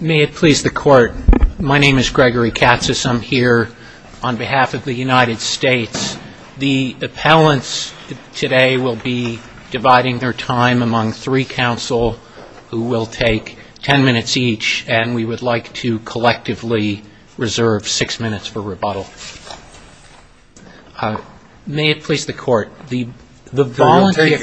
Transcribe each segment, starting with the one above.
May it please the Court, my name is Gregory Katz. I'm here on behalf of the United States. The appellants today will be dividing their time among three counsel, who will take ten minutes each, and we would like to collectively reserve six minutes for rebuttal. May it please the Court, the voluntary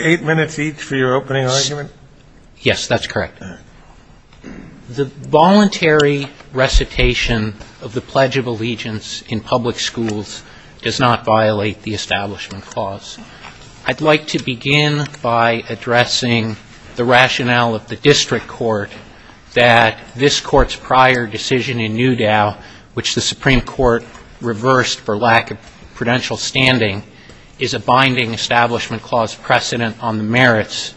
recitation of the Pledge of Allegiance in public schools does not violate the Establishment Clause. I'd like to begin by addressing the rationale of the District Court that this Court's prior decision in Newdow, which the Supreme Court reversed for lack of prudential standing, is a binding Establishment Clause precedent on the merits.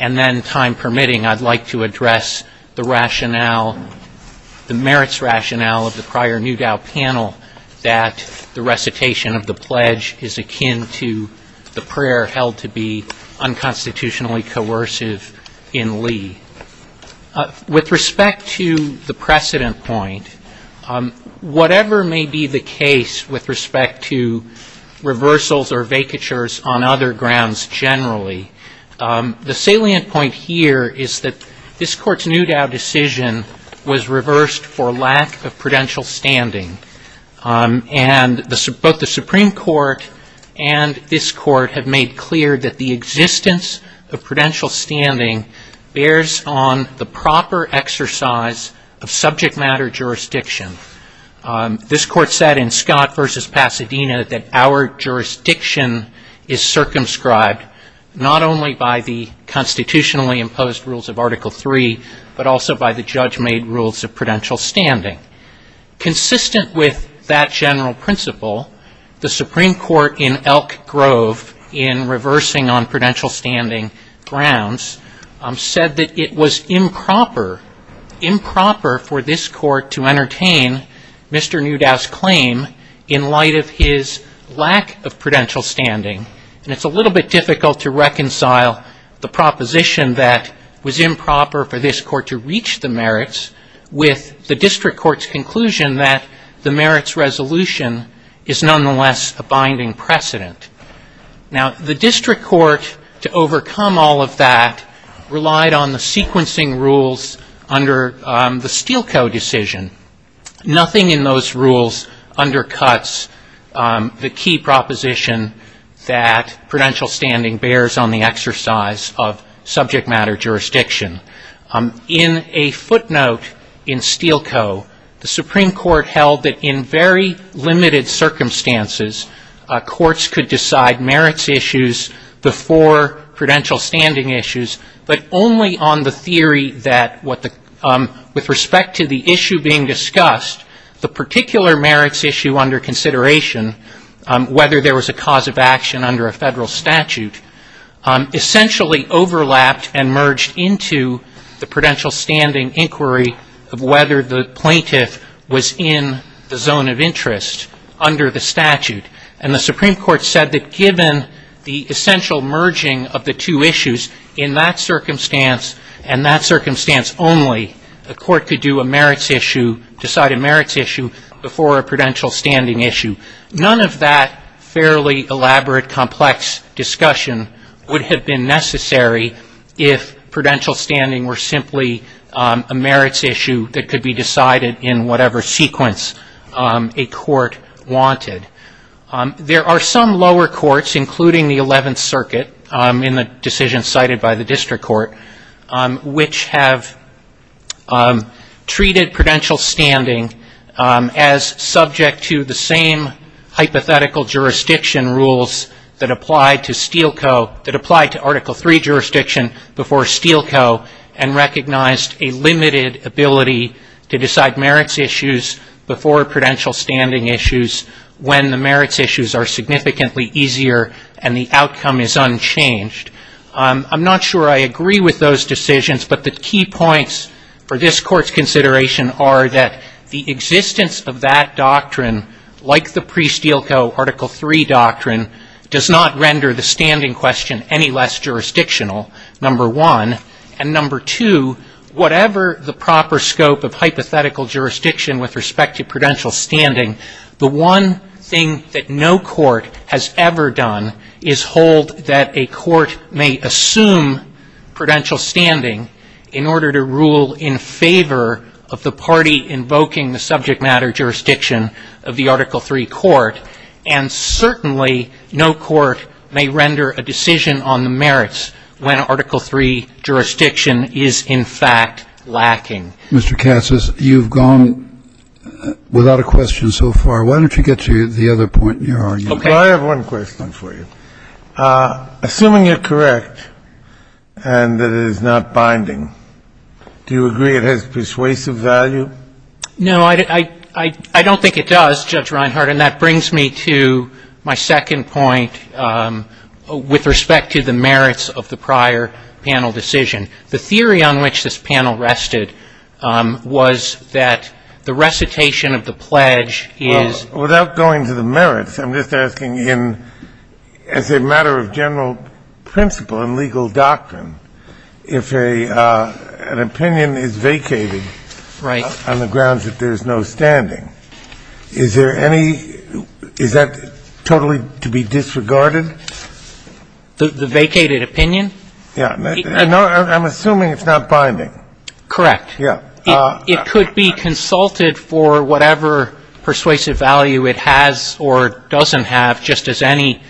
And then, time permitting, I'd like to address the rationale, the merits rationale of the Newdow panel, that the recitation of the Pledge is akin to the prayer held to be unconstitutionally coercive in Lee. With respect to the precedent point, whatever may be the case with respect to reversals or vacatures on other grounds generally, the salient point here is that this Court's Newdow decision was reversed for lack of prudential standing. And both the Supreme Court and this Court have made clear that the existence of prudential standing bears on the proper exercise of subject matter jurisdiction. This Court said in Scott v. Pasadena that our jurisdiction is circumscribed not only by the constitutionally imposed rules of Article III, but also by the judge-made rules of prudential standing. Consistent with that general principle, the Supreme Court in Elk Grove, in reversing on prudential standing grounds, said that it was improper, improper for this Court to entertain Mr. Newdow's claim in light of his lack of prudential standing. And it's a little bit difficult to reconcile the proposition that was improper for this Court to reach the merits with the district court's conclusion that the merits resolution is nonetheless a binding precedent. Now the district court, to overcome all of that, relied on the sequencing rules under the Steele Co. decision. Nothing in those rules undercuts the key proposition that prudential standing bears on the exercise of subject matter jurisdiction. In a footnote in Steele Co., the Supreme Court held that in very limited circumstances, courts could decide merits issues before prudential standing issues, but only on the theory that what the, with respect to the issue being discussed, the particular merits issue under consideration, whether there was a cause of action under a federal statute, essentially overlapped and merged into the prudential standing inquiry of whether the plaintiff was in the zone of interest under the statute. And the Supreme Court said that given the essential merging of the two issues, in that circumstance only, a court could do a merits issue, decide a merits issue, before a prudential standing issue. None of that fairly elaborate, complex discussion would have been necessary if prudential standing were simply a merits issue that could be decided in whatever sequence a court wanted. There are some lower courts, including the Eleventh Circuit, in the decision cited by the District Court, which have treated prudential standing as subject to the same hypothetical jurisdiction rules that applied to Steele Co., that applied to Article III jurisdiction before Steele Co. and recognized a limited ability to decide merits issues before prudential standing issues when the merits issues are significantly easier and the outcome is unchanged. I'm not sure I agree with those decisions, but the key points for this Court's consideration are that the existence of that doctrine, like the pre-Steele Co., Article III doctrine, does not render the standing question any less jurisdictional, number one. And number two, whatever the proper scope of hypothetical jurisdiction with respect to prudential standing, the one thing that no court has ever done is hold that a court may assume prudential standing in order to rule in favor of the party invoking the subject matter jurisdiction of the Article III court, and certainly no court may render a decision on the merits when Article III jurisdiction is, in fact, lacking. Mr. Katsas, you've gone without a question so far. Why don't you get to the other point in your argument? I have one question for you. Assuming you're correct and that it is not binding, do you agree it has persuasive value? No, I don't think it does, Judge Reinhart, and that brings me to my second point with respect to the merits of the prior panel decision. The theory on which this panel rested was that the recitation of the pledge is without going to the merits, I'm just asking in as a matter of general principle and legal doctrine, if an opinion is vacated on the grounds that there's no standing, is there any – is that totally to be disregarded? The vacated opinion? Yeah. I'm assuming it's not binding. Correct. Yeah. It could be consulted for whatever persuasive value it has or doesn't have, just as any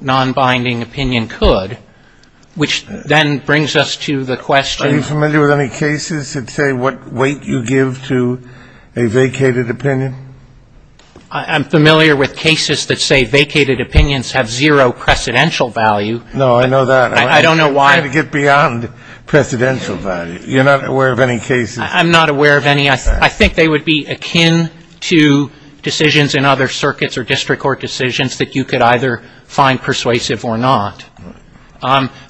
non-binding opinion could, which then brings us to the question – Are you familiar with any cases that say what weight you give to a vacated opinion? I'm familiar with cases that say vacated opinions have zero precedential value. No, I know that. I don't know why – I'm trying to get beyond precedential value. You're not aware of any cases – I'm not aware of any. I think they would be akin to decisions in other circuits or district court decisions that you could either find persuasive or not.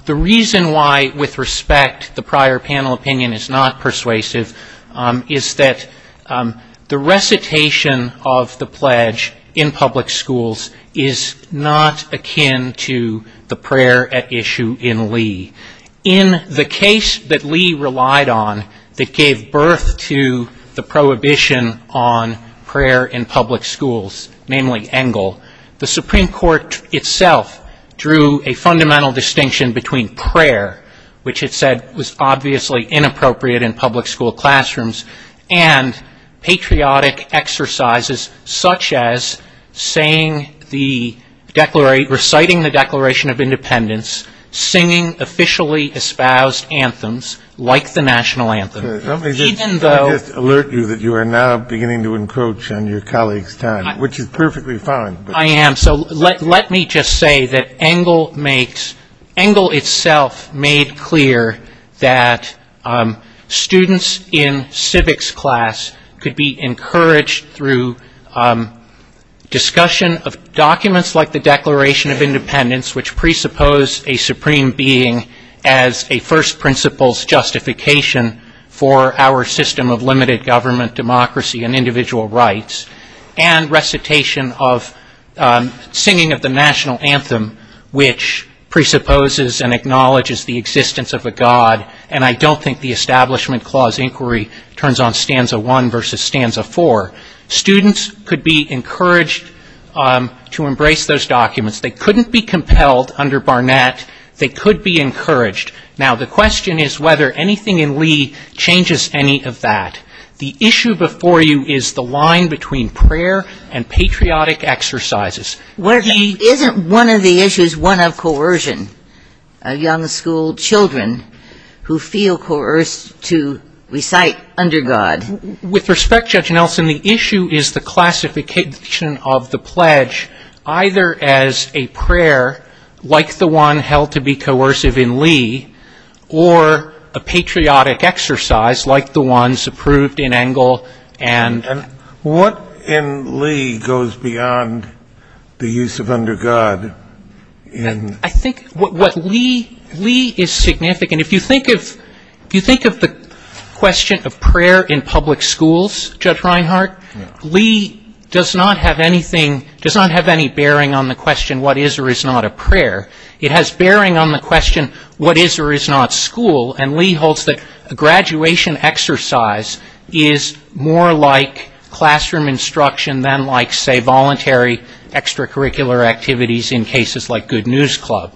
The reason why, with respect, the prior panel opinion is not persuasive is that the recitation of the pledge in public schools is not akin to the prayer at issue in Lee. In the case that Lee relied on that gave birth to the prohibition on prayer in public schools, namely Engel, the Supreme Court itself drew a fundamental distinction between prayer, which it said was obviously inappropriate in public school classrooms, and patriotic exercises such as saying the – reciting the Declaration of Independence, singing officially espoused anthems like the – Let me just alert you that you are now beginning to encroach on your colleague's time, which is perfectly fine. I am. So let me just say that Engel makes – Engel itself made clear that students in civics class could be encouraged through discussion of documents like the Declaration of Independence, which presuppose a supreme being as a first principle's justification for our system of limited government, democracy, and individual rights, and recitation of singing of the national anthem, which presupposes and acknowledges the existence of a god. And I don't think the Establishment Clause inquiry turns on stanza one versus stanza four. Students could be encouraged to embrace those documents. They couldn't be compelled under Barnett. They could be encouraged. Now, the question is whether anything in Lee changes any of that. The issue before you is the line between prayer and patriotic exercises. Isn't one of the issues one of coercion, of young school children who feel coerced to recite under God? With respect, Judge Nelson, the issue is the classification of the pledge either as a prayer like the one held to be coercive in Lee or a patriotic exercise like the ones approved in Engel and – And what in Lee goes beyond the use of under God in – I think what Lee – Lee is significant. If you think of – if you think of the question of prayer in public schools, Judge Reinhart, Lee does not have anything – does not have any bearing on the question, what is or is not a prayer. It has bearing on the question, what is or is not school? And Lee holds that a graduation exercise is more like classroom instruction than like, say, voluntary extracurricular activities in cases like Good News Club.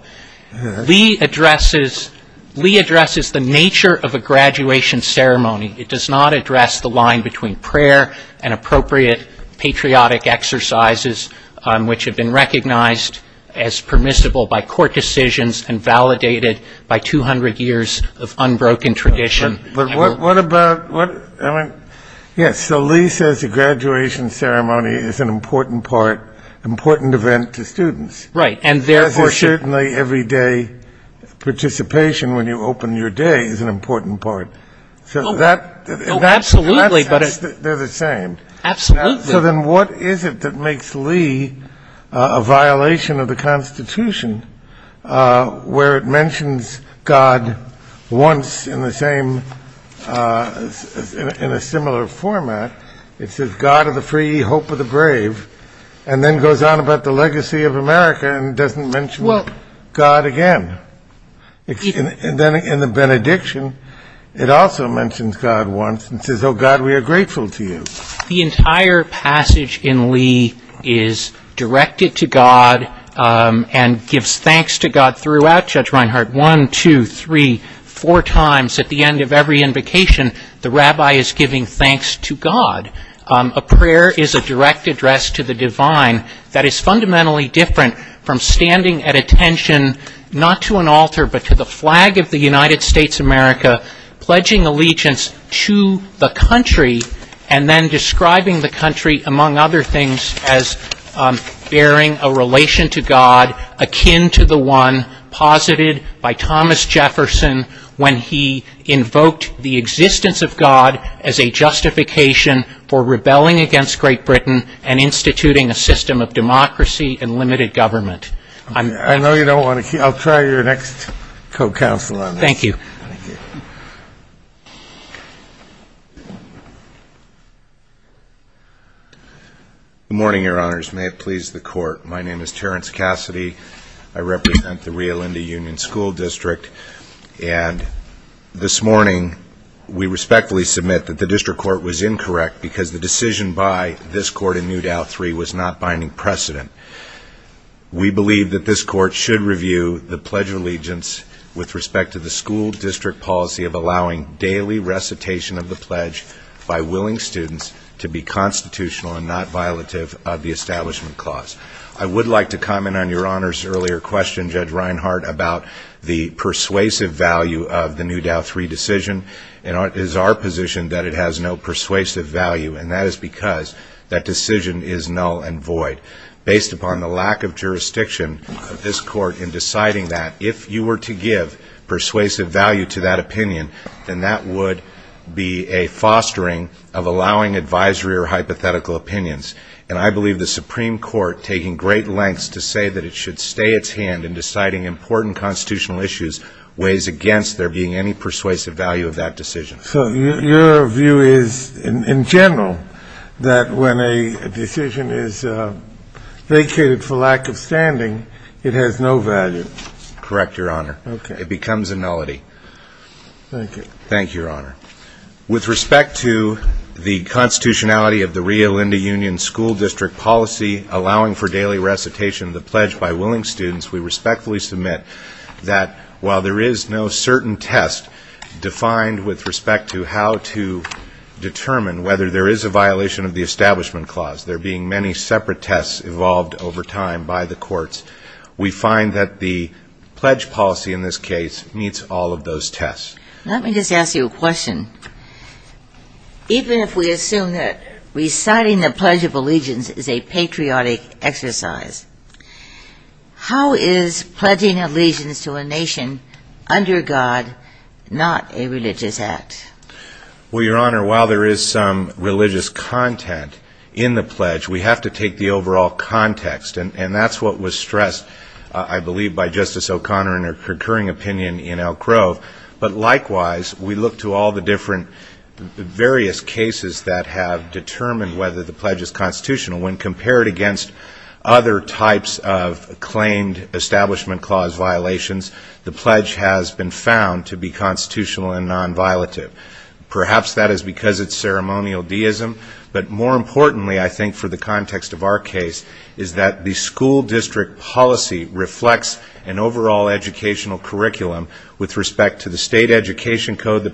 Lee addresses – Lee addresses the nature of a graduation ceremony. It does not address the line between prayer and appropriate patriotic exercises which have been recognized as permissible by court decisions and validated by 200 years of unbroken tradition. What about – yes, so Lee says a graduation ceremony is an important part, important event to students. Right, and therefore – As is certainly everyday participation when you open your day is an important part. So that – Oh, absolutely, but – They're the same. Absolutely. So then what is it that makes Lee a violation of the Constitution where it mentions God once in the same – in a similar format? It says, God of the free, hope of the brave, and then goes on about the legacy of America and doesn't mention God again. And then in the benediction, it also mentions God once and says, oh God, we are grateful to you. The entire passage in Lee is directed to God and gives thanks to God throughout, Judge Reinhart, one, two, three, four times at the end of every invocation, the rabbi is giving thanks to God. A prayer is a direct address to the divine that is fundamentally different from standing at attention, not to an altar but to the flag of the United States of America, pledging allegiance to the country and then describing the country among other things as bearing a relation to God akin to the one posited by Thomas Jefferson when he invoked the existence of God as a justification for rebelling against Great Britain and instituting a system of democracy and limited government. I know you don't want to keep – I'll try your next co-counsel on this. Thank you. Good morning, your honors. May it please the court. My name is Terrence Cassidy. I represent the Rio Linda Union School District and this morning we respectfully submit that the district court was incorrect because the decision by this court in New Dow 3 was not binding precedent. We believe that this court should review the pledge of allegiance with respect to the school district policy of allowing daily recitation of the pledge by willing students to be constitutional and not violative of the establishment clause. I would like to comment on your honors' earlier question, Judge Reinhart, about the persuasive value of the New Dow 3 decision. It is our position that it has no persuasive value and that is because that decision is null and void. Based upon the lack of jurisdiction of this court in deciding that, if you were to give persuasive value to that opinion, then that would be a fostering of allowing advisory or hypothetical opinions. And I believe the Supreme Court, taking great lengths to say that it should stay its hand in deciding important constitutional issues, weighs against there being any persuasive value of that decision. So your view is, in general, that when a decision is vacated for lack of standing, it has no value? Correct, Your Honor. It becomes a nullity. Thank you. With respect to the constitutionality of the Rio Linda Union School District policy allowing for daily recitation of the pledge by willing students, we respectfully submit that while there is no certain test defined with respect to how to determine whether there is a violation of the establishment clause, there being many separate tests evolved over time by the courts, we find that the pledge policy in this case meets all of those tests. Let me just ask you a question. Even if we assume that reciting the Pledge of Allegiance is a patriotic exercise, how is pledging allegiance to a nation under God not a religious act? Well, Your Honor, while there is some religious content in the pledge, we have to take the overall context. And that's what was stressed, I believe, by Justice O'Connor in her recurring opinion in Elk Grove. But likewise, we look to all the different various cases that have been compared against other types of claimed establishment clause violations, the pledge has been found to be constitutional and non-violative. Perhaps that is because it's ceremonial deism, but more importantly, I think for the context of our case, is that the school district policy reflects an overall educational curriculum with respect to the state education code that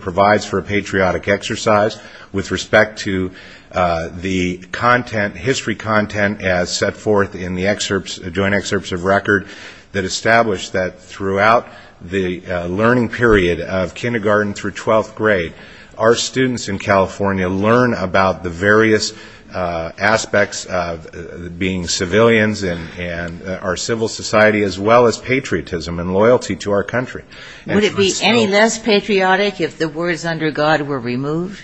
is set forth in the joint excerpts of record that establish that throughout the learning period of kindergarten through twelfth grade, our students in California learn about the various aspects of being civilians and our civil society as well as patriotism and loyalty to our country. Would it be any less patriotic if the words under God were removed?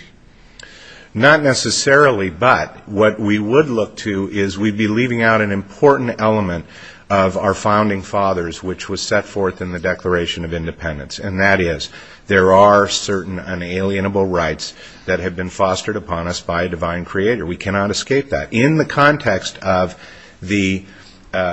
Not necessarily, but what we would look to is we'd be leaving out an important element of our founding fathers, which was set forth in the Declaration of Independence. And that is, there are certain unalienable rights that have been fostered upon us by a divine creator. We cannot escape that. In the context of the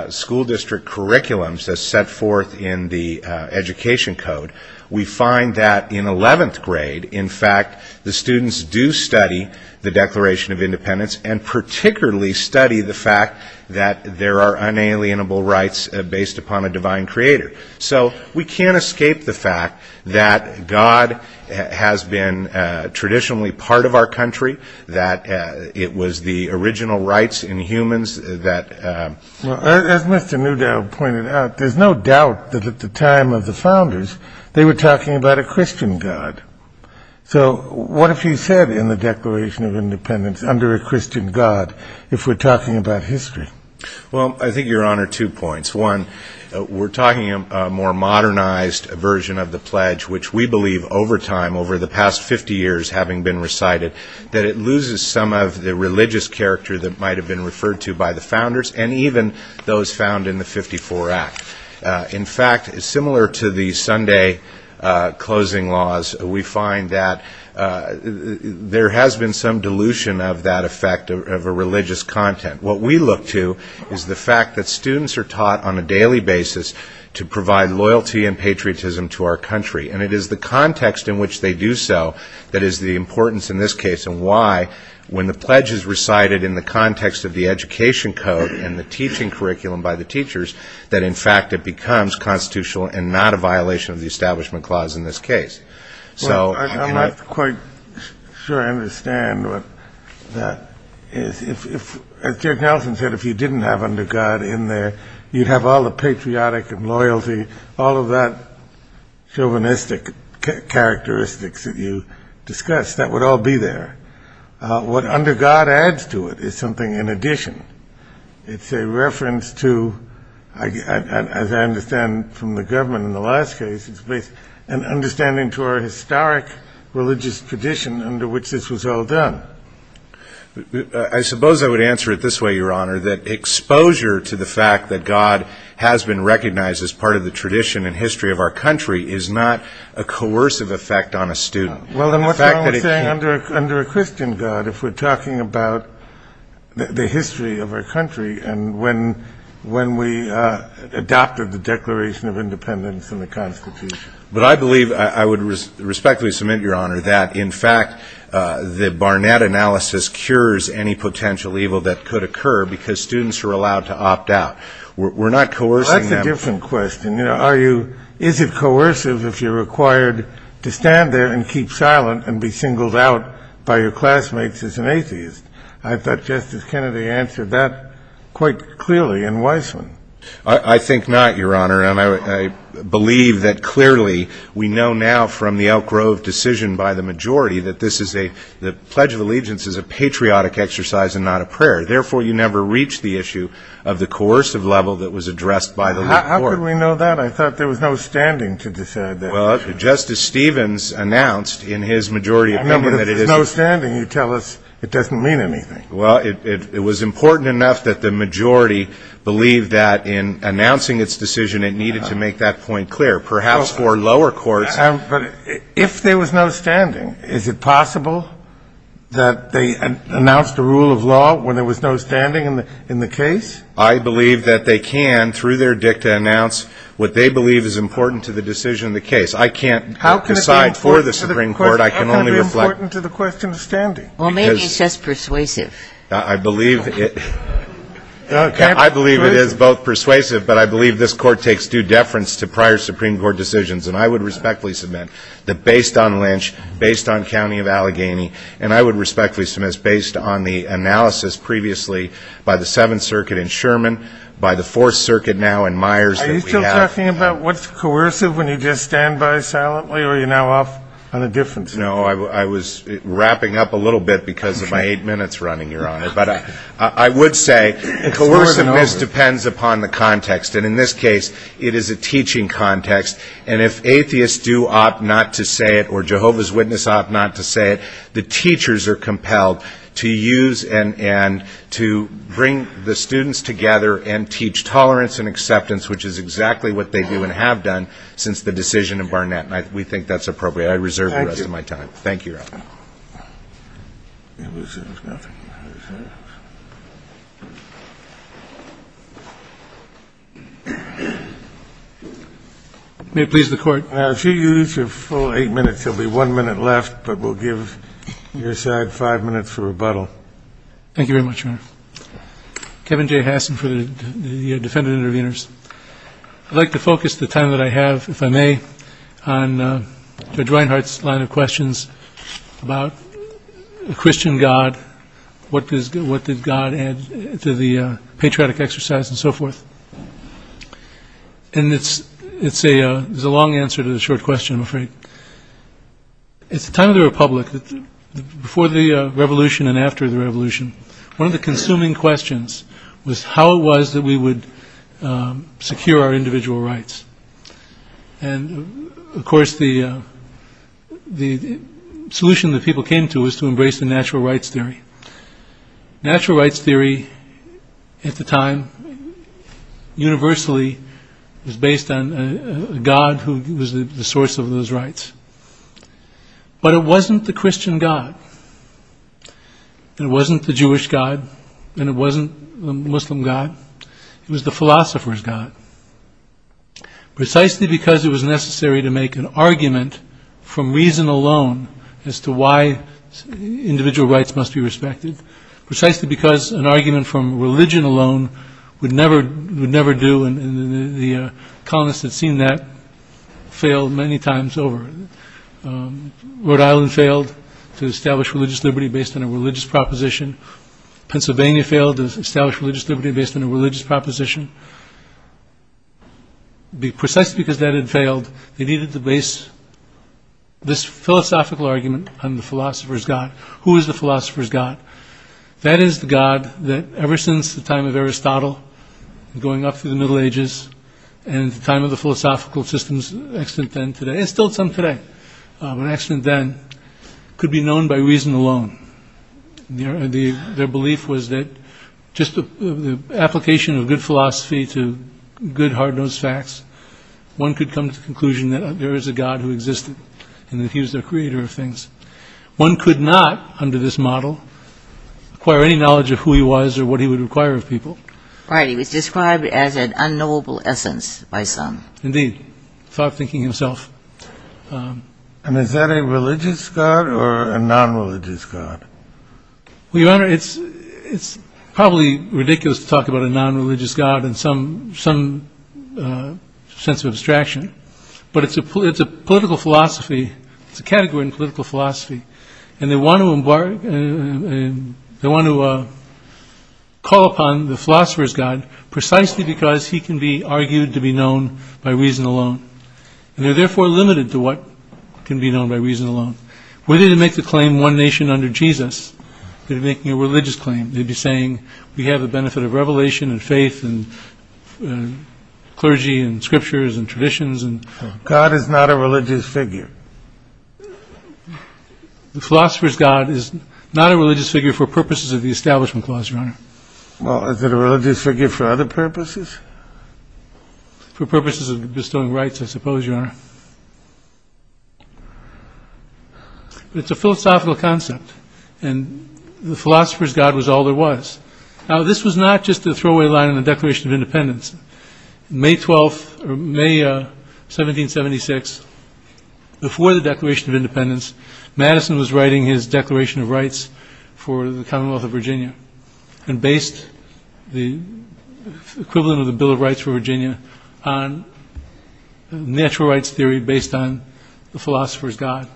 school district curriculums that's set forth in the education code, we find that in eleventh grade, in fact, the students do study the Declaration of Independence and particularly study the fact that there are unalienable rights based upon a divine creator. So we can't escape the fact that God has been traditionally part of our country, that it was the original rights in humans that... As Mr. Newdale pointed out, there's no doubt that at the time of the founders, they were talking about a Christian God. So what if he said in the Declaration of Independence, under a Christian God, if we're talking about history? Well, I think, Your Honor, two points. One, we're talking a more modernized version of the pledge, which we believe over time, over the past 50 years having been recited, that it loses some of the religious character that might have been referred to by the founders and even those found in the 54 Act. In fact, similar to the Sunday closing laws, we find that there has been some dilution of that effect of a religious content. What we look to is the fact that students are taught on a daily basis to provide loyalty and patriotism to our country. And it is the context in which they do so that is the importance in this and the teaching curriculum by the teachers, that in fact it becomes constitutional and not a violation of the Establishment Clause in this case. So I'm not quite sure I understand what that is. As Judge Nelson said, if you didn't have under God in there, you'd have all the patriotic and loyalty, all of that chauvinistic characteristics that you discussed, that would all be there. What under God adds to it is something in the reference to, as I understand from the government in the last case, an understanding to our historic religious tradition under which this was all done. I suppose I would answer it this way, Your Honor, that exposure to the fact that God has been recognized as part of the tradition and history of our country is not a coercive effect on a student. Well then what's wrong with saying under a Christian God if we're talking about the history of our country and when we adopted the Declaration of Independence and the Constitution? But I believe, I would respectfully submit, Your Honor, that in fact the Barnett analysis cures any potential evil that could occur because students are allowed to opt out. We're not coercing them. That's a different question. Is it coercive if you're required to stand there and keep silent and be singled out by your classmates as an atheist? I thought Justice Kennedy answered that quite clearly in Weissman. I think not, Your Honor, and I believe that clearly we know now from the Elk Grove decision by the majority that this is a, the Pledge of Allegiance is a patriotic exercise and not a prayer. Therefore, you never reach the issue of the coercive level that was addressed by the court. How could we know that? I thought there was no standing to decide that. Well, Justice Stevens announced in his majority amendment that it is I mean, if there's no standing, you tell us it doesn't mean anything. Well, it was important enough that the majority believed that in announcing its decision, it needed to make that point clear, perhaps for lower courts. But if there was no standing, is it possible that they announced a rule of law when there was no standing in the case? I believe that they can, through their dicta, announce what they believe is important to the decision of the case. I can't decide for the Supreme Court. I can only reflect How can it be important to the question of standing? Well, maybe it's just persuasive. I believe it is both persuasive, but I believe this court takes due deference to prior Supreme Court decisions. And I would respectfully submit that based on Lynch, based on County of Allegheny, and I would respectfully submit based on the analysis previously by the Seventh Circuit in Sherman, by the Fourth Circuit now in Myers Are you still talking about what's coercive when you just stand by silently or are you now off on a different subject? No, I was wrapping up a little bit because of my eight minutes running, Your Honor. But I would say coerciveness depends upon the context. And in this case, it is a teaching context. And if atheists do opt not to say it or Jehovah's Witness opt not to say it, the teachers are compelled to use and to bring the students together and teach tolerance and acceptance, which is exactly what they do and have done since the decision in Barnett. And we think that's appropriate. I reserve the rest of my time. Thank you, Your Honor. May it please the court. If you use your full eight minutes, there will be one minute left, but we'll give your side five minutes for rebuttal. Thank you very much, Your Honor. Kevin J. Hassan for the defendant interveners. I'd like to focus the time that I have, if I may, on Judge Reinhardt's line of questions about the Christian God. What does what does God add to the patriotic exercise and so forth? And it's it's a long answer to the short question, I'm afraid. It's the time of the Republic, before the revolution and after the revolution. One of the consuming questions was how it was that we would secure our individual rights. And of course, the the solution that people came to was to embrace the natural rights theory. Natural rights theory at the time universally was based on God, who was the source of those rights. But it wasn't the Christian God. And it wasn't the Jewish God. And it wasn't the Muslim God. It was the philosopher's God, precisely because it was necessary to make an argument from reason alone as to why individual rights must be respected, precisely because an argument from religion alone would never would never do. And the colonists had seen that fail many times over. Rhode Island failed to establish religious liberty based on a religious proposition. Pennsylvania failed to establish religious liberty based on a religious proposition. Be precise because that had failed. They needed to base this philosophical argument on the philosopher's God. Who is the philosopher's God? That is the God that ever since the time of Aristotle going up through the Middle Ages and the time of the philosophical systems, and still some today, could be known by reason alone. Their belief was that just the application of good philosophy to good hard-nosed facts, one could come to the conclusion that there is a God who existed and that he was the creator of things. One could not, under this model, acquire any knowledge of who he was or what he would require of people. Right. He was described as an unknowable essence by some. Indeed. Thought thinking himself. And is that a religious God or a non-religious God? Well, Your Honor, it's it's probably ridiculous to talk about a non-religious God in some some sense of abstraction, but it's a political philosophy. It's a category in political philosophy. And they want to embark and they want to call upon the philosopher's God precisely because he can be argued to be known by reason alone. And they're therefore limited to what can be known by reason alone. Were they to make the claim one nation under Jesus, they'd be making a religious claim. They'd be saying we have the benefit of revelation and faith and clergy and scriptures and traditions. And God is not a religious figure. The philosopher's God is not a religious figure for purposes of the Establishment Clause, Your Honor. Well, is it a religious figure for other purposes? For purposes of bestowing rights, I suppose, Your Honor. It's a philosophical concept, and the philosopher's God was all there was. Now, this was not just a throwaway line in the Declaration of Independence. May 12th or May 1776, before the Declaration of Independence, Madison was writing his Declaration of Rights for the Commonwealth of Virginia and based the equivalent of the Bill of Rights for Virginia on natural rights theory based on the philosopher's God.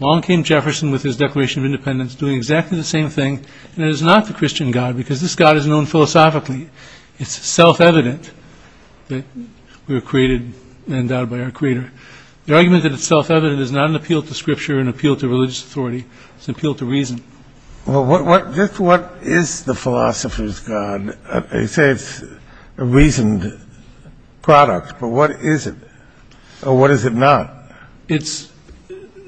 Along came Jefferson with his Declaration of Independence doing exactly the same thing. And it is not the Christian God because this God is known philosophically. It's self-evident that we were created and endowed by our creator. The argument that it's self-evident is not an appeal to scripture, an appeal to religious authority. It's an appeal to reason. Well, just what is the philosopher's God? You say it's a reasoned product, but what is it? Or what is it not? It's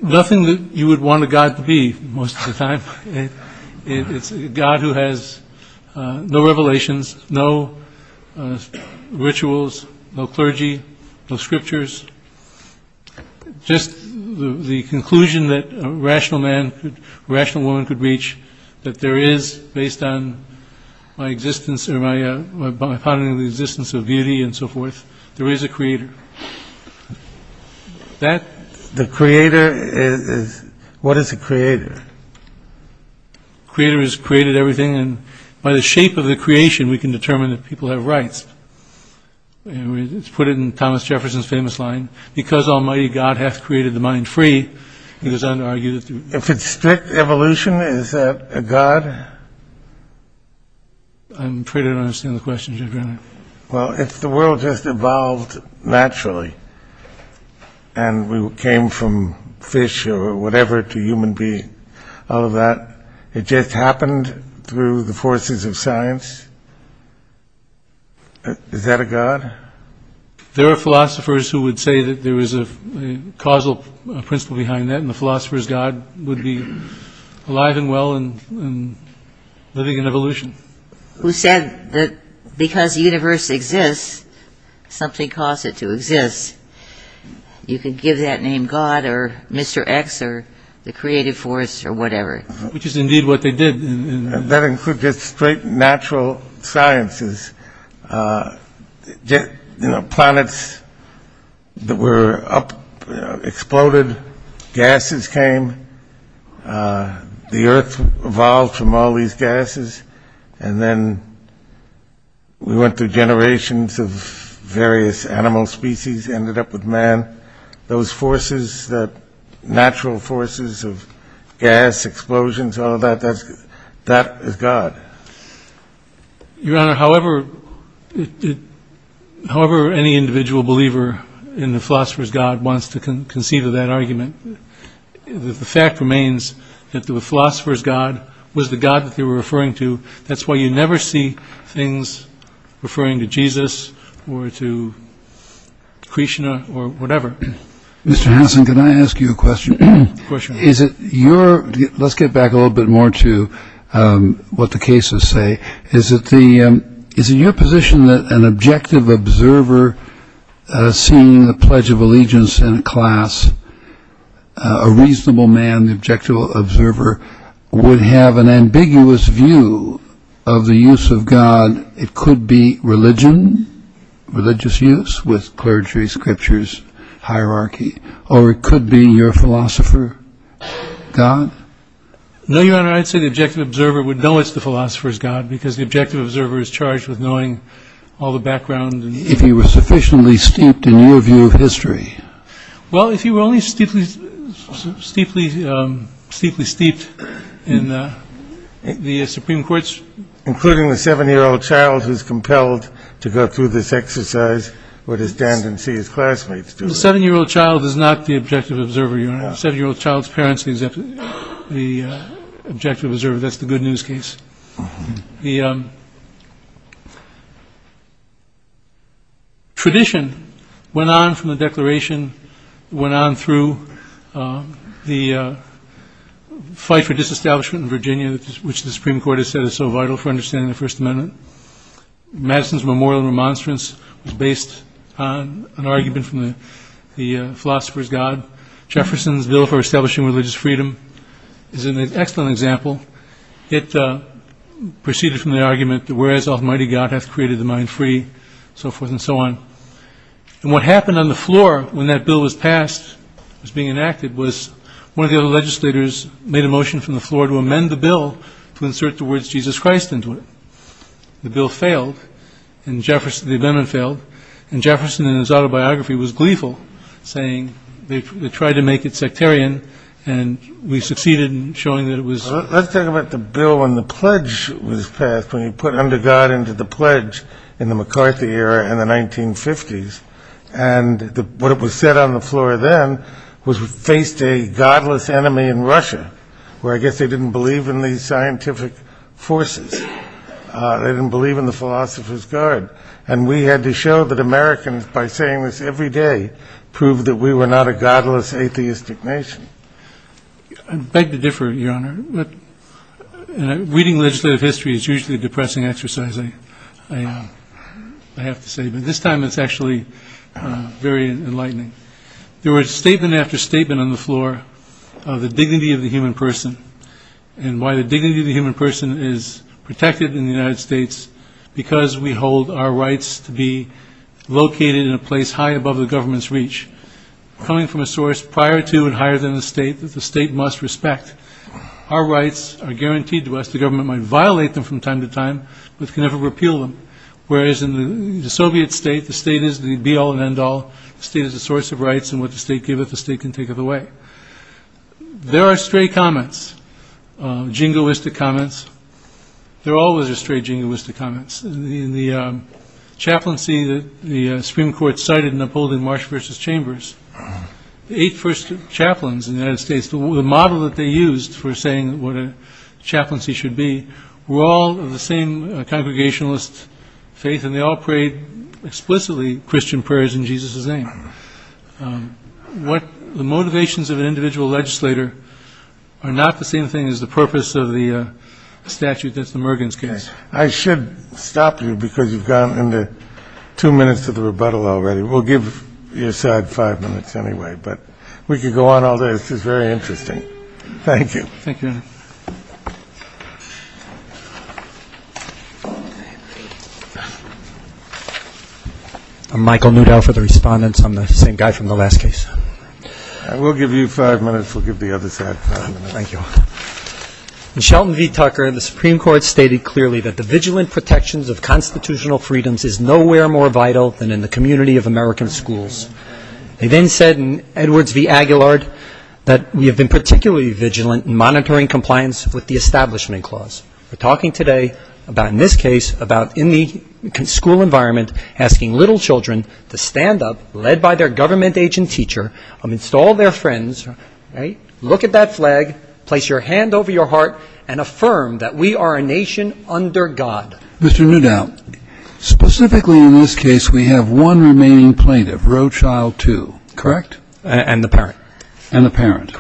nothing that you would want a God to be most of the time. It's a God who has no revelations, no rituals, no clergy, no scriptures. Just the conclusion that a rational man, a rational woman could reach that there is, based on my existence or my finding of the existence of beauty and so forth, there is a creator. The creator is, what is a creator? The creator has created everything and by the shape of the creation, we can determine that people have rights. And we put it in Thomas Jefferson's famous line, because almighty God hath created the mind free, he goes on to argue that... If it's strict evolution, is that a God? I'm afraid I don't understand the question, Judge Rennie. Well, if the world just evolved naturally and we came from fish or whatever to human being, all of that, it just happened through the forces of science, is that a God? There are philosophers who would say that there is a causal principle behind that and the philosopher's God would be alive and well and living in evolution. Who said that because the universe exists, something caused it to exist. You could give that name God or Mr. X or the creative force or whatever. Which is indeed what they did. That includes just straight natural sciences. Planets that were up, exploded, gases came, the earth evolved from all these gases and then we went through generations of various animal species, ended up with man. Those forces, natural forces of gas, explosions, all of that, that is God. Your Honor, however any individual believer in the philosopher's God wants to conceive of that argument, the fact remains that the philosopher's God was the God that they were referring to. That's why you never see things referring to Jesus or to Krishna or whatever. Mr. Hanson, can I ask you a question? Of course, Your Honor. Is it your, let's get back a little bit more to what the cases say. Is it your position that an objective observer seeing the Pledge of Allegiance in a class, a reasonable man, the objective observer, would have an ambiguous view of the use of God? It could be religion, religious use with clergy, scriptures, hierarchy, or it could be your philosopher God? No, Your Honor, I'd say the objective observer would know it's the philosopher's God because the objective observer is charged with knowing all the background. Well, if you were only steeply, steeply, steeply steeped in the Supreme Court's... Including the seven-year-old child who's compelled to go through this exercise or to stand and see his classmates do it? The seven-year-old child is not the objective observer, Your Honor. The seven-year-old child's parents, the objective observer, that's the good news case. The tradition went on from the Declaration, went on through the fight for disestablishment in Virginia, which the Supreme Court has said is so vital for understanding the First Amendment. Madison's memorial remonstrance was based on an argument from the philosopher's God. Jefferson's bill for establishing religious freedom is an excellent example. It proceeded from the argument that, whereas Almighty God hath created the mind free, so forth and so on. And what happened on the floor when that bill was passed, was being enacted, was one of the other legislators made a motion from the floor to amend the bill to insert the words Jesus Christ into it. The bill failed and the amendment failed and Jefferson in his autobiography was gleeful, saying they tried to make it sectarian and we succeeded in showing that it was... Let's talk about the bill when the pledge was passed, when you put under God into the pledge in the McCarthy era in the 1950s and what was said on the floor then was we faced a godless enemy in Russia where I guess they didn't believe in these scientific forces. They didn't believe in the philosopher's God and we had to show that Americans, by saying this every day, proved that we were not a godless atheistic nation. I beg to differ, Your Honor, reading legislative history is usually a depressing exercise, I have to say, but this time it's actually very enlightening. There were statement after statement on the floor of the dignity of the human person and why the dignity of the human person is protected in the United States because we hold our rights to be located in a place high above the government's reach, coming from a source prior to and higher than the state that the state must respect. Our rights are guaranteed to us, the government might violate them from time to time but can never repeal them, whereas in the Soviet state, the state is the be-all and end-all, the state is the source of rights and what the state giveth, the state can taketh away. There are stray comments, jingoistic comments, there always are stray jingoistic comments. In the chaplaincy that the Supreme Court cited in upholding Marsh v. Chambers, the eight first chaplains in the United States, the model that they used for saying what a chaplaincy should be, were all of the same congregationalist faith and they all prayed explicitly Christian prayers in Jesus' name. The motivations of an individual legislator are not the same thing as the purpose of the statute that's the Mergen's case. I should stop you because you've gone into two minutes of the rebuttal already. We'll give your side five minutes anyway, but we could go on all day, this is very interesting. Thank you. I'm Michael Newdow for the respondents, I'm the same guy from the last case. We'll give you five minutes, we'll give the other side five minutes. Thank you. In Shelton v. Tucker, the Supreme Court stated clearly that the vigilant protections of constitutional freedoms is nowhere more vital than in the community of American schools. They then said in Edwards v. Aguilar that we have been particularly vigilant in monitoring compliance with the Establishment Clause. We're talking today about in this case about in the school environment asking little children to stand up, led by their government agent teacher, amidst all their friends, look at that flag, place your hand over your heart and affirm that we are a nation under God. Mr. Newdow, specifically in this case we have one remaining plaintiff, Roe Child 2, correct? And the parent. And the parent.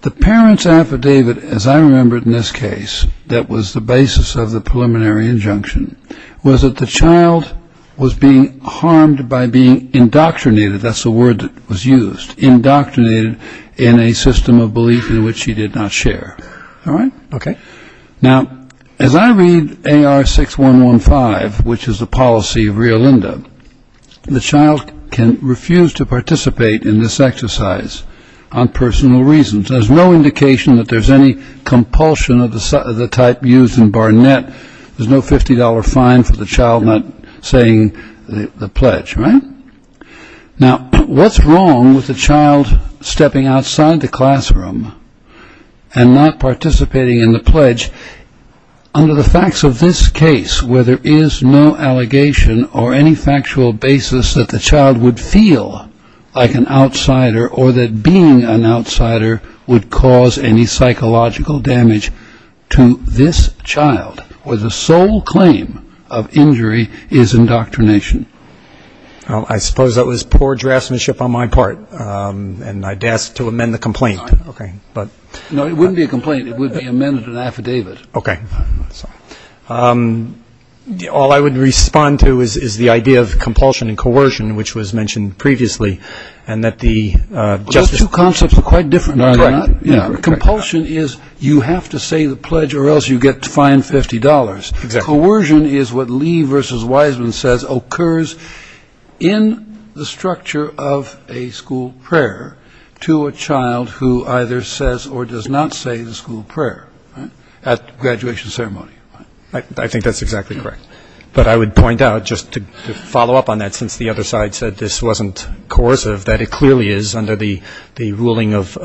The parent's affidavit, as I remember it in this case, that was the basis of the preliminary injunction, was that the child was being harmed by being indoctrinated, that's the word that was used, indoctrinated in a system of belief in which he did not share. All right, okay. Now, as I read AR6115, which is the policy of Rio Linda, the child can refuse to participate in this exercise on personal reasons. There's no indication that there's any compulsion of the type used in Barnett. There's no $50 fine for the child not saying the pledge, right? Now, what's wrong with the child stepping outside the classroom and not participating in the pledge under the facts of this case where there is no allegation or any factual basis that the child would feel like an outsider or that being an outsider would cause any psychological damage to this child where the sole claim of injury is indoctrination? I suppose that was poor draftsmanship on my part and I'd ask to amend the complaint. No, it wouldn't be a complaint, it would be amended in affidavit. Okay. All I would respond to is the idea of compulsion and coercion which was mentioned previously and that the... Those two concepts are quite different. Compulsion is you have to say the pledge or else you get fined $50. Exactly. Coercion is what Lee v. Wiseman says occurs in the structure of a school prayer to a child who either says or does not say the school prayer at graduation ceremony. I think that's exactly correct. But I would point out just to follow up on that since the other side said this wasn't coercive that it clearly is under the ruling of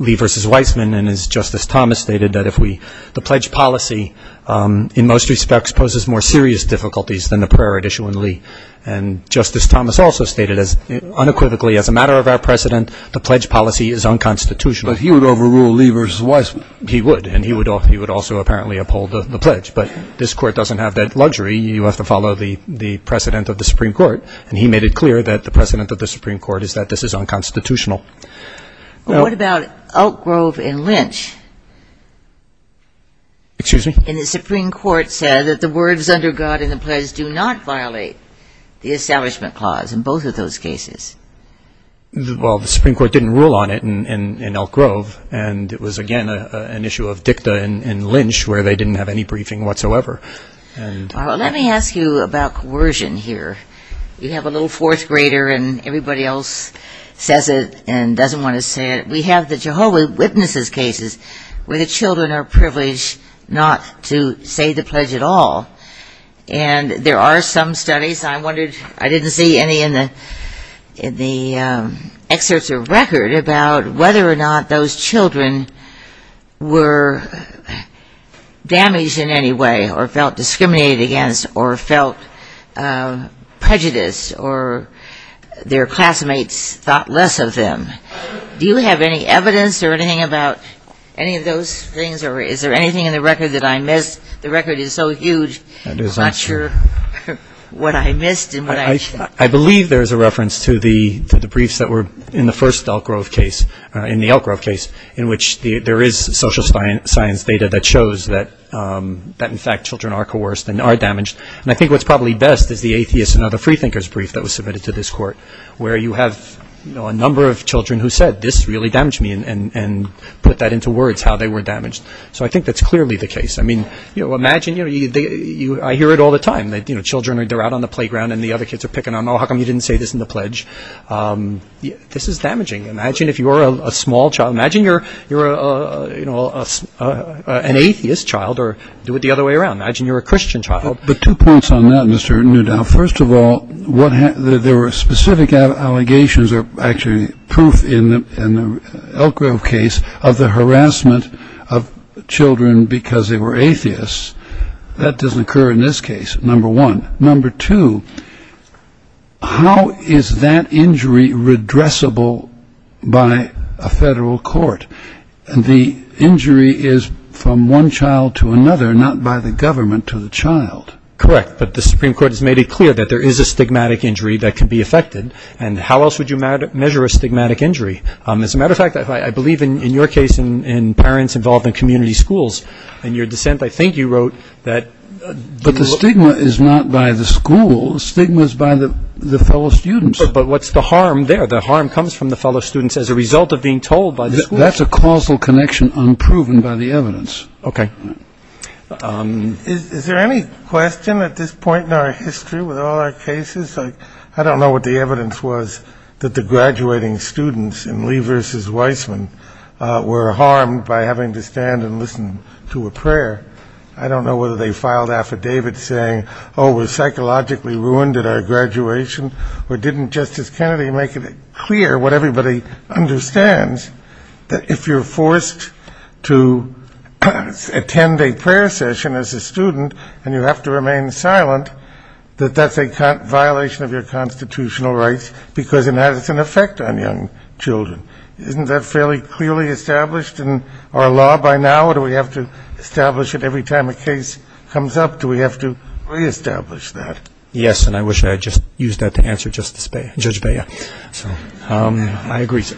Lee v. Wiseman and as Justice Thomas stated that if we... The pledge policy in most respects poses more serious difficulties than the prayer at issue in Lee and Justice Thomas also stated unequivocally as a matter of our precedent the pledge policy is unconstitutional. But he would overrule Lee v. Wiseman. He would and he would also apparently uphold the pledge but this Court doesn't have that luxury. You have to follow the precedent of the Supreme Court and he made it clear that the precedent of the Supreme Court is that this is unconstitutional. What about Oak Grove and Lynch? Excuse me? And the Supreme Court said that the words under God in the pledge do not violate the Establishment Clause in both of those cases. Well, the Supreme Court didn't rule on it in Oak Grove and it was again an issue of dicta in Lynch where they didn't have any briefing whatsoever. Let me ask you about coercion here. You have a little fourth grader and everybody else says it and doesn't want to say it. We have the Jehovah's Witnesses cases where the children are privileged not to say the pledge at all and there are some studies. I didn't see any in the excerpts of the record about whether or not those children were damaged in any way or felt discriminated against or felt prejudiced or their classmates thought less of them. Do you have any evidence or anything about any of those things or is there anything in the record that I missed? The record is so huge I'm not sure what I missed. I believe there is a reference to the briefs that were in the first Oak Grove case in which there is social science data that shows that in fact children are coerced and are damaged and I think what's probably best is the atheist and other freethinkers brief that was submitted to this court where you have a number of children who said this really damaged me and put that into words how they were damaged. So I think that's clearly the case. I hear it all the time. Children are out on the playground and the other kids are picking on them oh how come you didn't say this in the pledge. This is damaging. Imagine if you were a small child. Imagine you're an atheist child or do it the other way around. Imagine you're a Christian child. But two points on that Mr. Newdow. First of all there were specific allegations or actually proof in the Oak Grove case of the harassment of children because they were atheists. That doesn't occur in this case number one. Number two how is that injury redressable by a federal court and the injury is from one child to another not by the government to the child. Correct but the Supreme Court has made it clear that there is a stigmatic injury that can be affected and how else would you measure a stigmatic injury. As a matter of fact I believe in your case and parents involved in community schools and your dissent I think you wrote that. But the stigma is not by the school. The stigma is by the fellow students. But what's the harm there. The harm comes from the fellow students as a result of being told by the school. That's a causal connection unproven by the evidence. Okay. Is there any question at this point in our history with all our cases. I don't know what the evidence was that the graduating students in Lee versus Weissman were harmed by having to stand and listen to a prayer. I don't know whether they filed affidavits saying oh we're psychologically ruined at our graduation or didn't Justice Kennedy make it clear what everybody understands that if you're forced to attend a prayer session as a student and you have to remain silent that that's a violation of your constitutional rights because it has an effect on young children. Isn't that fairly clearly established in our law by now or do we have to establish it every time a case comes up. Do we have to re-establish that. Yes. And I wish I had just used that to answer Justice Beyer. Judge Beyer. I agree sir.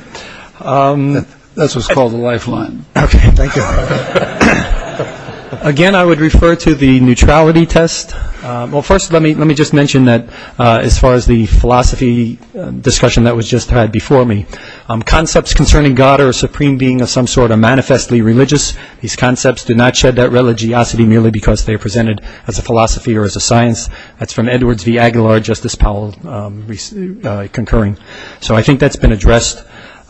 That's what's called the lifeline. Okay. Thank you. Again I would refer to the neutrality test. Well first let me just mention that as far as the philosophy discussion that was just had before me. Concepts concerning God or a supreme being of some sort are manifestly religious. These concepts do not shed that religiosity merely because they are presented as a philosophy or as a science. That's from Edwards v. Aguilar. Justice Powell concurring. So I think that's been addressed.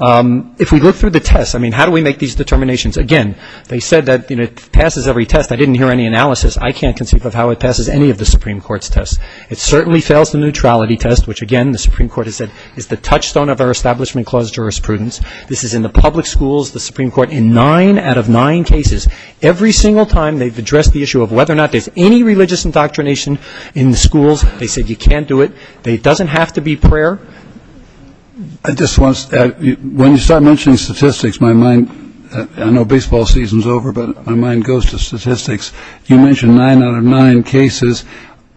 If we look through the tests I mean how do we make these determinations. Again they said that it passes every test. I didn't hear any analysis. I can't conceive of how it passes any of the Supreme Court's tests. It certainly fails the neutrality test which again the Supreme Court has said is the touchstone of our Establishment Clause jurisprudence. This is in the public schools, the Supreme Court in nine out of nine cases. Every single time they've addressed the issue of whether or not there's any religious indoctrination in the schools. They said you can't do it. It doesn't have to be prayer. I just want. When you start mentioning statistics my mind I know baseball season's over but my mind goes to statistics. You mentioned nine out of nine cases.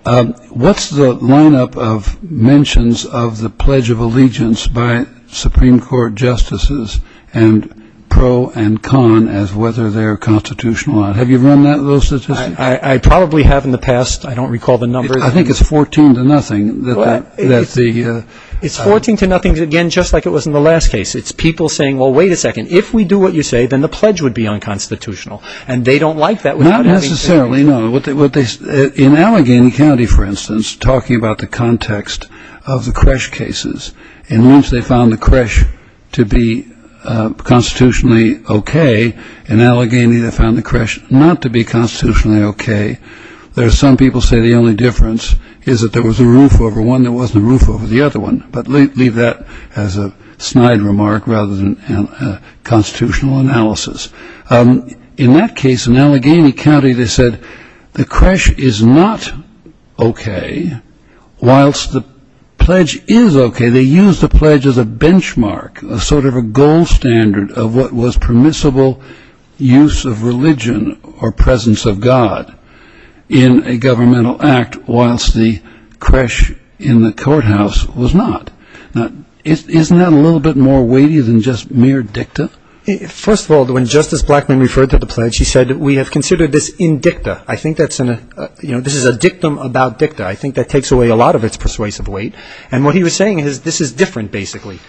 What's the lineup of mentions of the Pledge of Allegiance by Supreme Court justices and pro and con as whether they're constitutional. Have you run those statistics? I probably have in the past. I don't recall the numbers. I think it's 14 to nothing. It's 14 to nothing again just like it was in the last case. It's people saying well wait a second. If we do what you say then the pledge would be unconstitutional and they don't like that. Not necessarily. In Allegheny County for instance talking about the context of the creche cases and once they found the creche to be constitutionally OK in Allegheny they found the creche not to be constitutionally OK. There are some people say the only difference is that there was a roof over one that wasn't a roof over the other one but leave that as a snide remark rather than a constitutional analysis. In that case in Allegheny County they said the creche is not OK whilst the pledge is OK. They used the pledge as a benchmark a sort of a gold standard of what was permissible use of religion or presence of God in a governmental act whilst the creche in the courthouse was not. Isn't that a little bit more weighty than just mere dicta? First of all when Justice Blackmun referred to the pledge he said we have considered this in dicta. I think this is a dictum about dicta. I think that takes away a lot of its persuasive weight and what he was saying is this is different basically.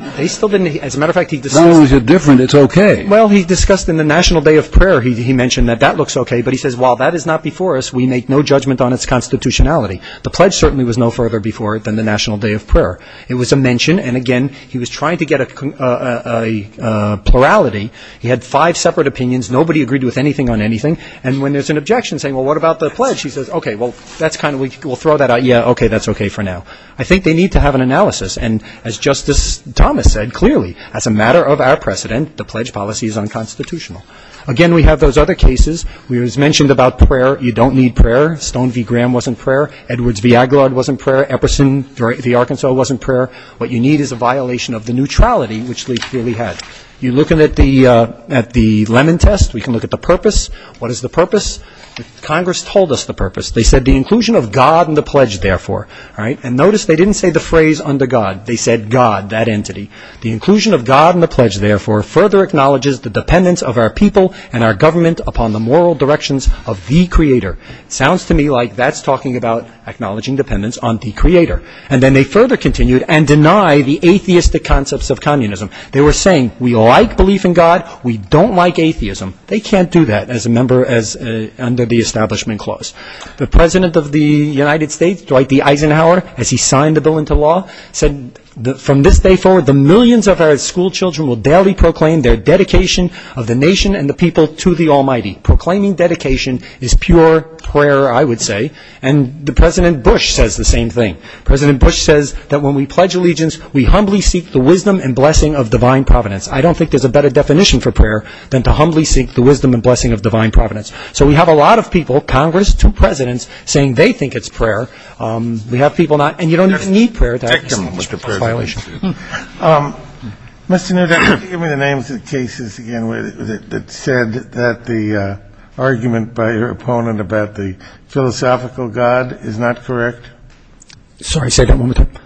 As a matter of fact... No, it's different, it's OK. Well, he discussed in the National Day of Prayer he mentioned that that looks OK but he says while that is not before us we make no judgment on its constitutionality. The pledge certainly was no further before than the National Day of Prayer. It was a mention and again he was trying to get a plurality. He had five separate opinions nobody agreed with anything on anything and when there's an objection saying well, what about the pledge? He says OK, well, we'll throw that out. Yeah, OK, that's OK for now. I think they need to have an analysis and as Justice Thomas said clearly as a matter of our precedent the pledge policy is unconstitutional. Again, we have those other cases where it was mentioned about prayer you don't need prayer. Stone v. Graham wasn't prayer. Edwards v. Aguilar wasn't prayer. Epperson v. Arkansas wasn't prayer. What you need is a violation of the neutrality which Lee clearly had. You look at the lemon test we can look at the purpose. What is the purpose? Congress told us the purpose. They said the inclusion of God in the pledge therefore. And notice they didn't say the phrase under God. They said God, that entity. The inclusion of God in the pledge therefore further acknowledges the dependence of our people and our government upon the moral directions of the Creator. Sounds to me like that's talking about acknowledging dependence on the Creator and deny the atheistic concepts of communism. They were saying we like belief in God we don't like atheism. They can't do that as a member under the Establishment Clause. The President of the United States Dwight D. Eisenhower as he signed the bill into law said from this day forward the millions of our school children will daily proclaim their dedication of the nation and the people to the Almighty. Proclaiming dedication is pure prayer I would say. And President Bush says the same thing. President Bush says in the Pledge of Allegiance we humbly seek the wisdom and blessing of divine providence. I don't think there's a better definition for prayer than to humbly seek the wisdom and blessing of divine providence. So we have a lot of people Congress, two Presidents saying they think it's prayer. We have people not and you don't need prayer. Mr. Nutter give me the names of the cases again that said that the argument by your opponent about the philosophical God is not correct. Sorry say that one more time.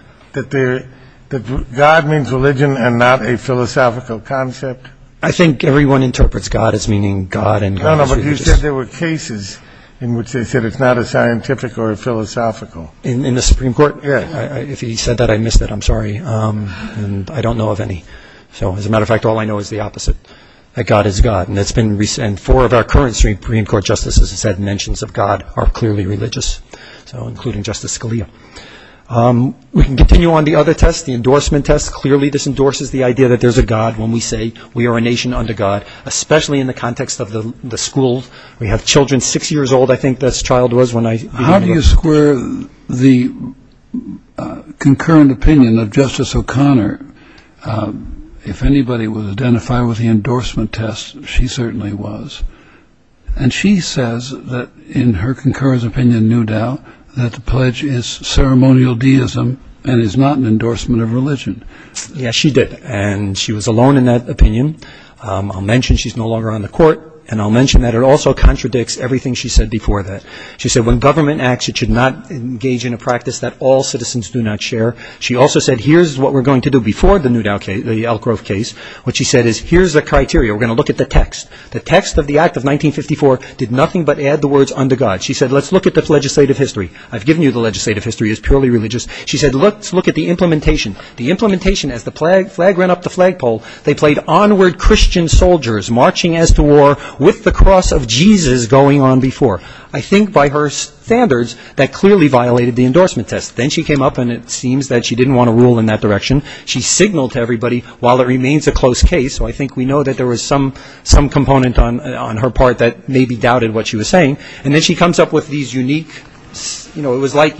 That God means religion and not a philosophical concept. I think everyone interprets God as meaning God. But you said there were cases in which they said it's not a scientific or a philosophical. In the Supreme Court? If he said that I missed it I'm sorry. I don't know of any. So as a matter of fact all I know is the opposite. That God is God. And four of our current Supreme Court Justices said mentions of God are clearly religious. So including Justice Scalia. We can continue on the other test the endorsement test. Clearly this endorses the idea that there's a God when we say we are a nation under God especially in the context of the school. We have children six years old. I think this child was when I... How do you square the concurrent opinion of Justice O'Connor? If anybody would identify with the endorsement test she certainly was. And she says that in her concurrent opinion no doubt that the pledge is ceremonial deism and is not an endorsement of religion. Yes she did. And she was alone in that opinion. I'll mention she's no longer on the court and I'll mention that it also contradicts everything she said before that. She said when government acts it should not engage in a practice that all citizens do not share. She also said here's what we're going to do before the Newdow case, the Elk Grove case. What she said is here's the criteria. We're going to look at the text. The text of the Act of 1954 is purely religious. She said let's look at the implementation. As the flag ran up the flagpole they played onward Christian soldiers marching as to war with the cross of Jesus going on before. I think by her standards that clearly violated the endorsement test. Then she came up and it seems that she didn't want to rule in that direction. She signaled to everybody while it remains a close case so I think we know that there was some component on her part that maybe doubted what she was saying. Then she comes up with these unique it was like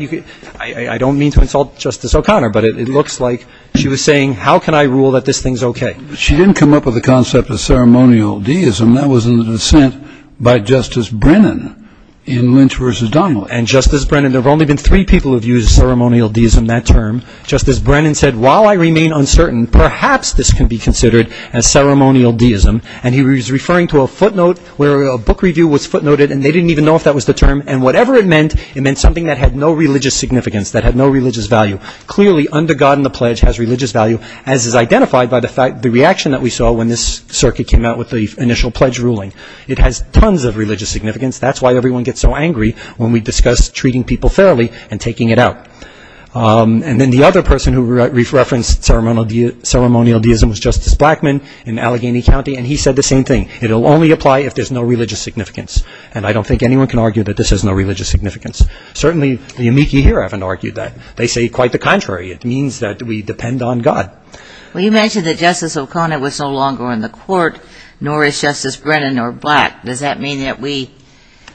I don't mean to insult Justice O'Connor but it looks like she was saying how can I rule that this thing is okay. She didn't come up with the concept of ceremonial deism. That was in the dissent by Justice Brennan in Lynch v. Donnelly. Justice Brennan, there have only been three people who have used ceremonial deism that term. Justice Brennan said while I remain uncertain perhaps this can be considered as ceremonial deism. He was referring to a footnote where a book review was footnoted I don't even know if that was the term and whatever it meant it meant something that had no religious significance that had no religious value. Clearly under God and the pledge has religious value as is identified by the reaction that we saw when this circuit came out with the initial pledge ruling. It has tons of religious significance that's why everyone gets so angry when we discuss treating people fairly and taking it out. Then the other person who referenced ceremonial deism was Justice Blackmun in Allegheny County and he said the same thing it will only apply if there's no religious significance and I don't think anyone can argue that this has no religious significance. Certainly the amici here haven't argued that they say quite the contrary it means that we depend on God. Well you mentioned that Justice O'Connor was no longer in the court nor is Justice Brennan or Black does that mean that we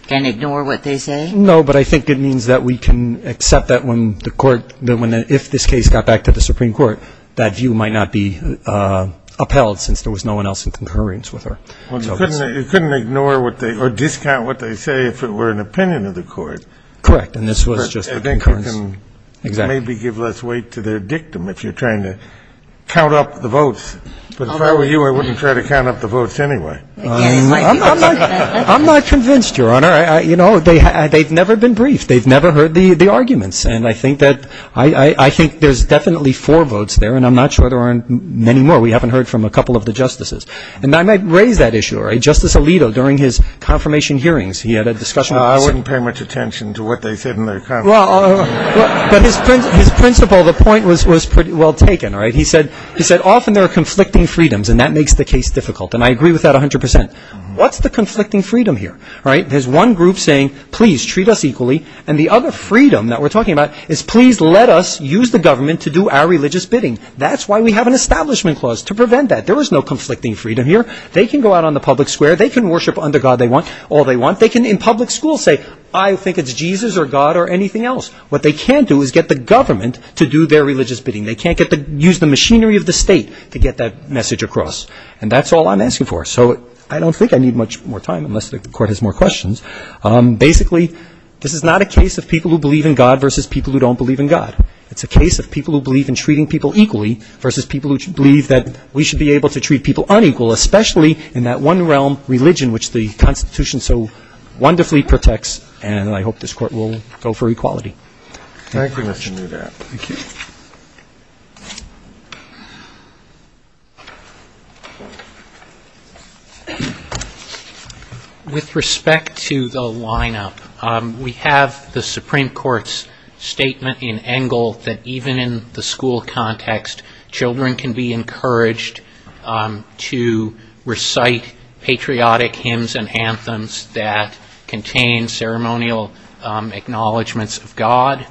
can ignore what they say? No, but I think it means that we can accept that if this case got back to the Supreme Court that view might not be upheld since there was no one else in concurrence with her. Well you couldn't ignore what they or discount what they say if it were an opinion of the court. Correct, and this was just a concurrence. Maybe give less weight to their dictum if you're trying to count up the votes but if I were you I wouldn't try to count up the votes anyway. I'm not convinced, Your Honor. You know, they've never been briefed they've never heard the arguments and I think that there's definitely four votes there and I'm not sure there are many more we haven't heard from a couple of the Justices on that issue. Justice Alito during his confirmation hearings he had a discussion I wouldn't pay much attention to what they said but his principle the point was pretty well taken he said often there are conflicting freedoms and that makes the case difficult and I agree with that 100%. What's the conflicting freedom here? There's one group saying please treat us equally and the other freedom that we're talking about is please let us use the government to do our religious bidding they can worship under God they want all they want they can in public school say I think it's Jesus or God or anything else what they can do is get the government to do their religious bidding they can't use the machinery of the state to get that message across and that's all I'm asking for so I don't think I need much more time unless the Court has more questions basically this is not a case of people who believe in God versus people who don't believe in God it's a case of people who believe in one realm, religion which the Constitution so wonderfully protects and I hope this Court will go for equality. Thank you Mr. Neubat. Thank you. With respect to the lineup we have the Supreme Court's statement in Engel that even in the school context children can be encouraged to recite patriotic hymns and anthems that contain ceremonial acknowledgments of God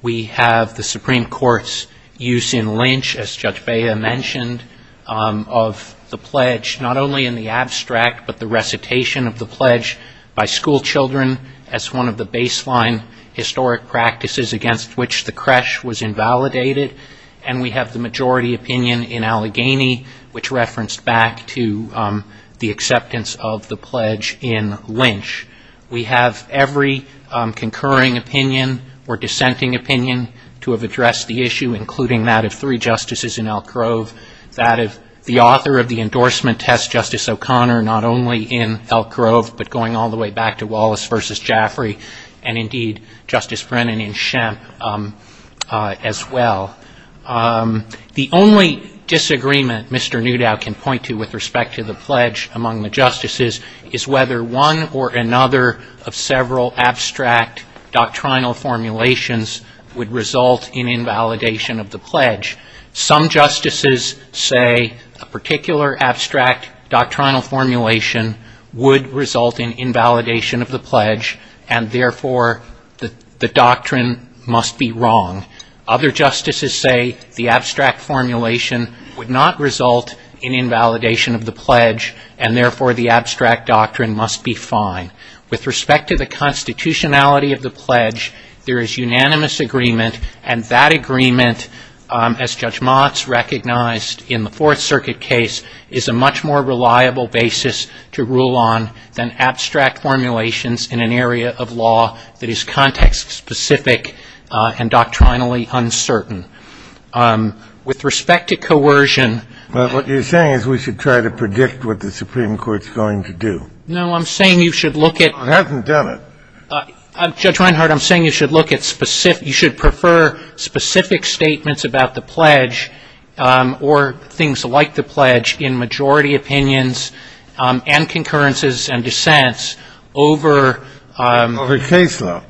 we have the Supreme Court's use in Lynch as Judge Bea mentioned of the pledge not only in the abstract but the recitation of the pledge by school children as one of the baseline historic practices against which the creche was invalidated and we have the majority opinion in Allegheny which referenced back to the acceptance of the pledge in Lynch. We have every concurring opinion or dissenting opinion to have addressed the issue including that of three Justices in Elk Grove that of the author of the endorsement test Justice O'Connor not only in Elk Grove but going all the way back to Wallace versus Jaffrey and indeed Justice Brennan in Shemp as well. The only disagreement Mr. Newdow can point to with respect to the pledge among the Justices is whether one or another of several abstract doctrinal formulations would result in invalidation of the pledge. Some Justices say a particular abstract doctrinal formulation would result in invalidation of the pledge and therefore the doctrine must be wrong. Other Justices say the abstract formulation would not result in invalidation of the pledge and therefore the abstract doctrine must be fine. With respect to the constitutionality of the pledge there is unanimous agreement and that agreement as Judge Motz recognized in the Fourth Circuit case is a much more reliable basis to rule on than abstract formulations in an area of law that is context specific and doctrinally uncertain. With respect to coercion But what you're saying is we should try to predict what the Supreme Court's going to do. No, I'm saying you should look at It hasn't done it. Judge Reinhart, I'm saying you should look at specific you should prefer specific statements about the pledge or things like the pledge in majority opinions and concurrences and dissents over Over case law.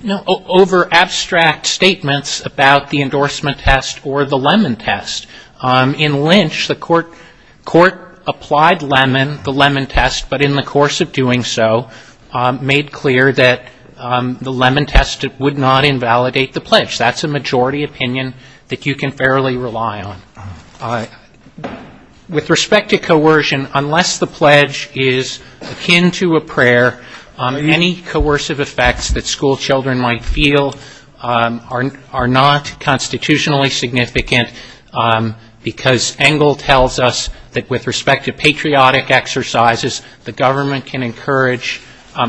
No, over abstract statements about the endorsement test or the lemon test. In Lynch the court court applied lemon, the lemon test but in the course of doing so made clear that the lemon test would not invalidate the pledge. That's a majority opinion that you can fairly rely on. With respect to coercion unless the pledge is akin to a prayer any coercive effects that school children might feel are not constitutionally significant because Engle tells us that with respect to patriotic exercises the government can encourage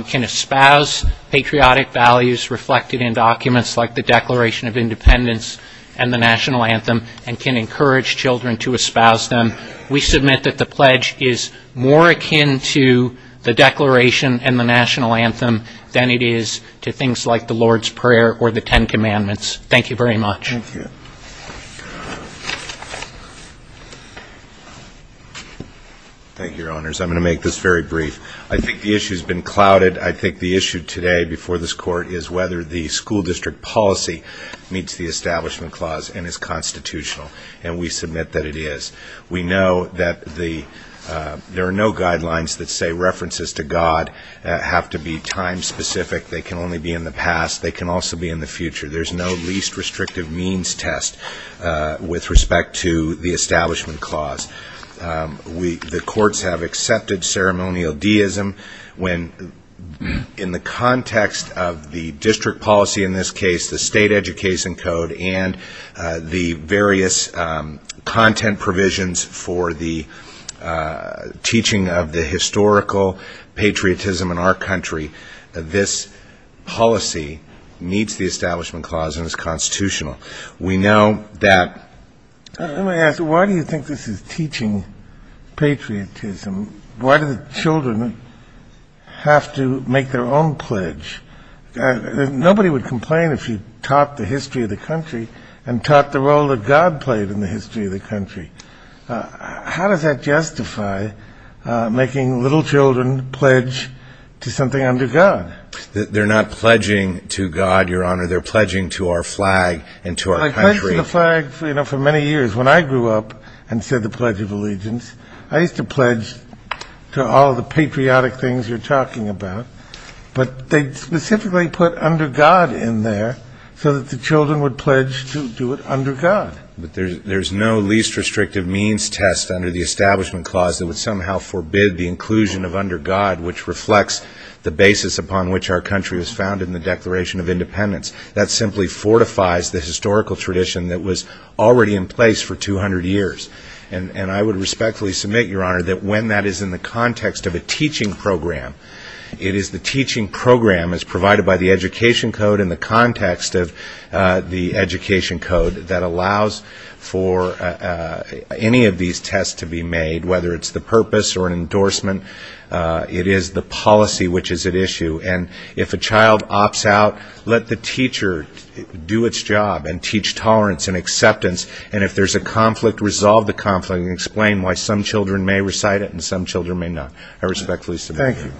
can espouse patriotic values reflected in documents like the Declaration of Independence and the National Anthem and can encourage children to espouse them. We submit that the pledge is more akin to the Declaration and the National Anthem than it is to things like the Lord's Prayer or the Ten Commandments. Thank you very much. I'm going to make this very brief. I think the issue has been clouded. I think the issue today before this court is whether the school district policy meets the Establishment Clause and is constitutional and we submit that it is. We know that there are no guidelines that say references to God have to be time specific. They can only be in the past. They can also be in the future. There is no least restrictive means test with respect to the Establishment Clause. The courts have accepted ceremonial deism when in the context of the district policy in this case, the State Education Code and the various content provisions for the teaching of the historical patriotism in our country, this policy meets the Establishment Clause and is constitutional. We know that... Let me ask, why do you think this is teaching patriotism? Why do the children have to make their own pledge? Nobody would complain if you taught the history of the country and taught the role that God played in the history of the country. How does that justify making little children pledge to something under God? They're not pledging to God, Your Honor. They're pledging to our flag and to our country. I pledged to the flag for many years. When I grew up and said the Pledge of Allegiance, I used to pledge to all the patriotic things you're talking about. But they specifically put under God in there so that the children could pledge to the flag And that's the basis upon which our country was founded in the Declaration of Independence. That simply fortifies the historical tradition that was already in place for 200 years. And I would respectfully submit, Your Honor, that when that is in the context of a teaching program, it is the teaching program that teaches tolerance and acceptance. And if a child opts out, let the teacher do its job and teach tolerance and acceptance. And if there's a conflict, resolve the conflict and explain why some children may recite it and some children may not. I respectfully submit. Thank you.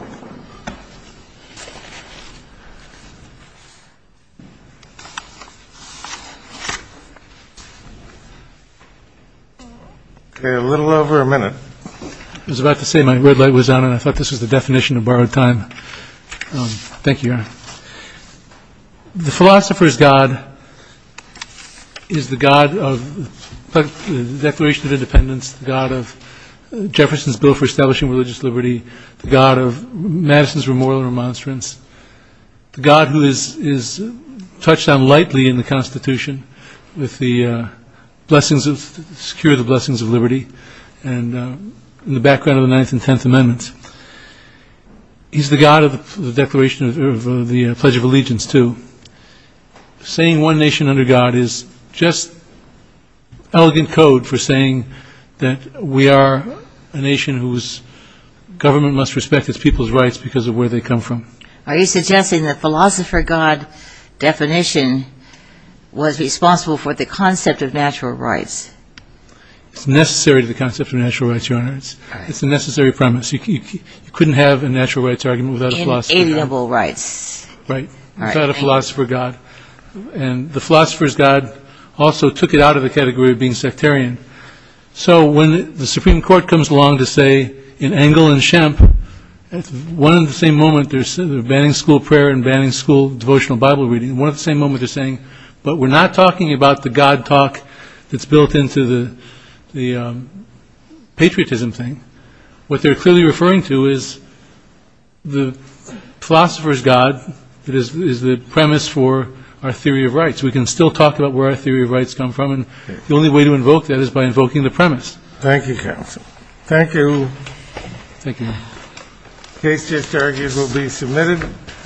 Okay. A little over a minute. Thank you, Your Honor. The philosopher's God is the God of the Declaration of Independence, the God of Jefferson's Bill for Establishing Religious Liberty, the God of Madison's Remoral Remonstrance, the God who is touched on lightly in the Constitution with the blessings of Secure the Blessings of Liberty and in the background of the Ninth and Tenth Amendments. He's the God of the Declaration of the Pledge of Allegiance, too. Saying one nation under God is just elegant code for saying that we are a nation whose government must respect its people's rights because of where they come from. Are you suggesting that philosopher God's definition was responsible for the concept of natural rights? It's necessary to the concept of natural rights, Your Honor. You couldn't have a natural rights argument without a philosopher. Right. Without a philosopher God. And the philosopher's God also took it out of the category of being sectarian. So when the Supreme Court comes along to say in Engel and Shemp, one and the same moment, they're banning school prayer and banning school devotional Bible reading. One and the same moment they're saying, but we're not talking about the God talk that's built into the patriotism thing. What they're clearly referring to is the philosopher's God that is the premise for our theory of rights. We can still talk about where our theory of rights come from and the only way to invoke that is by invoking the premise. Thank you, counsel. Thank you. The case just argued will be submitted.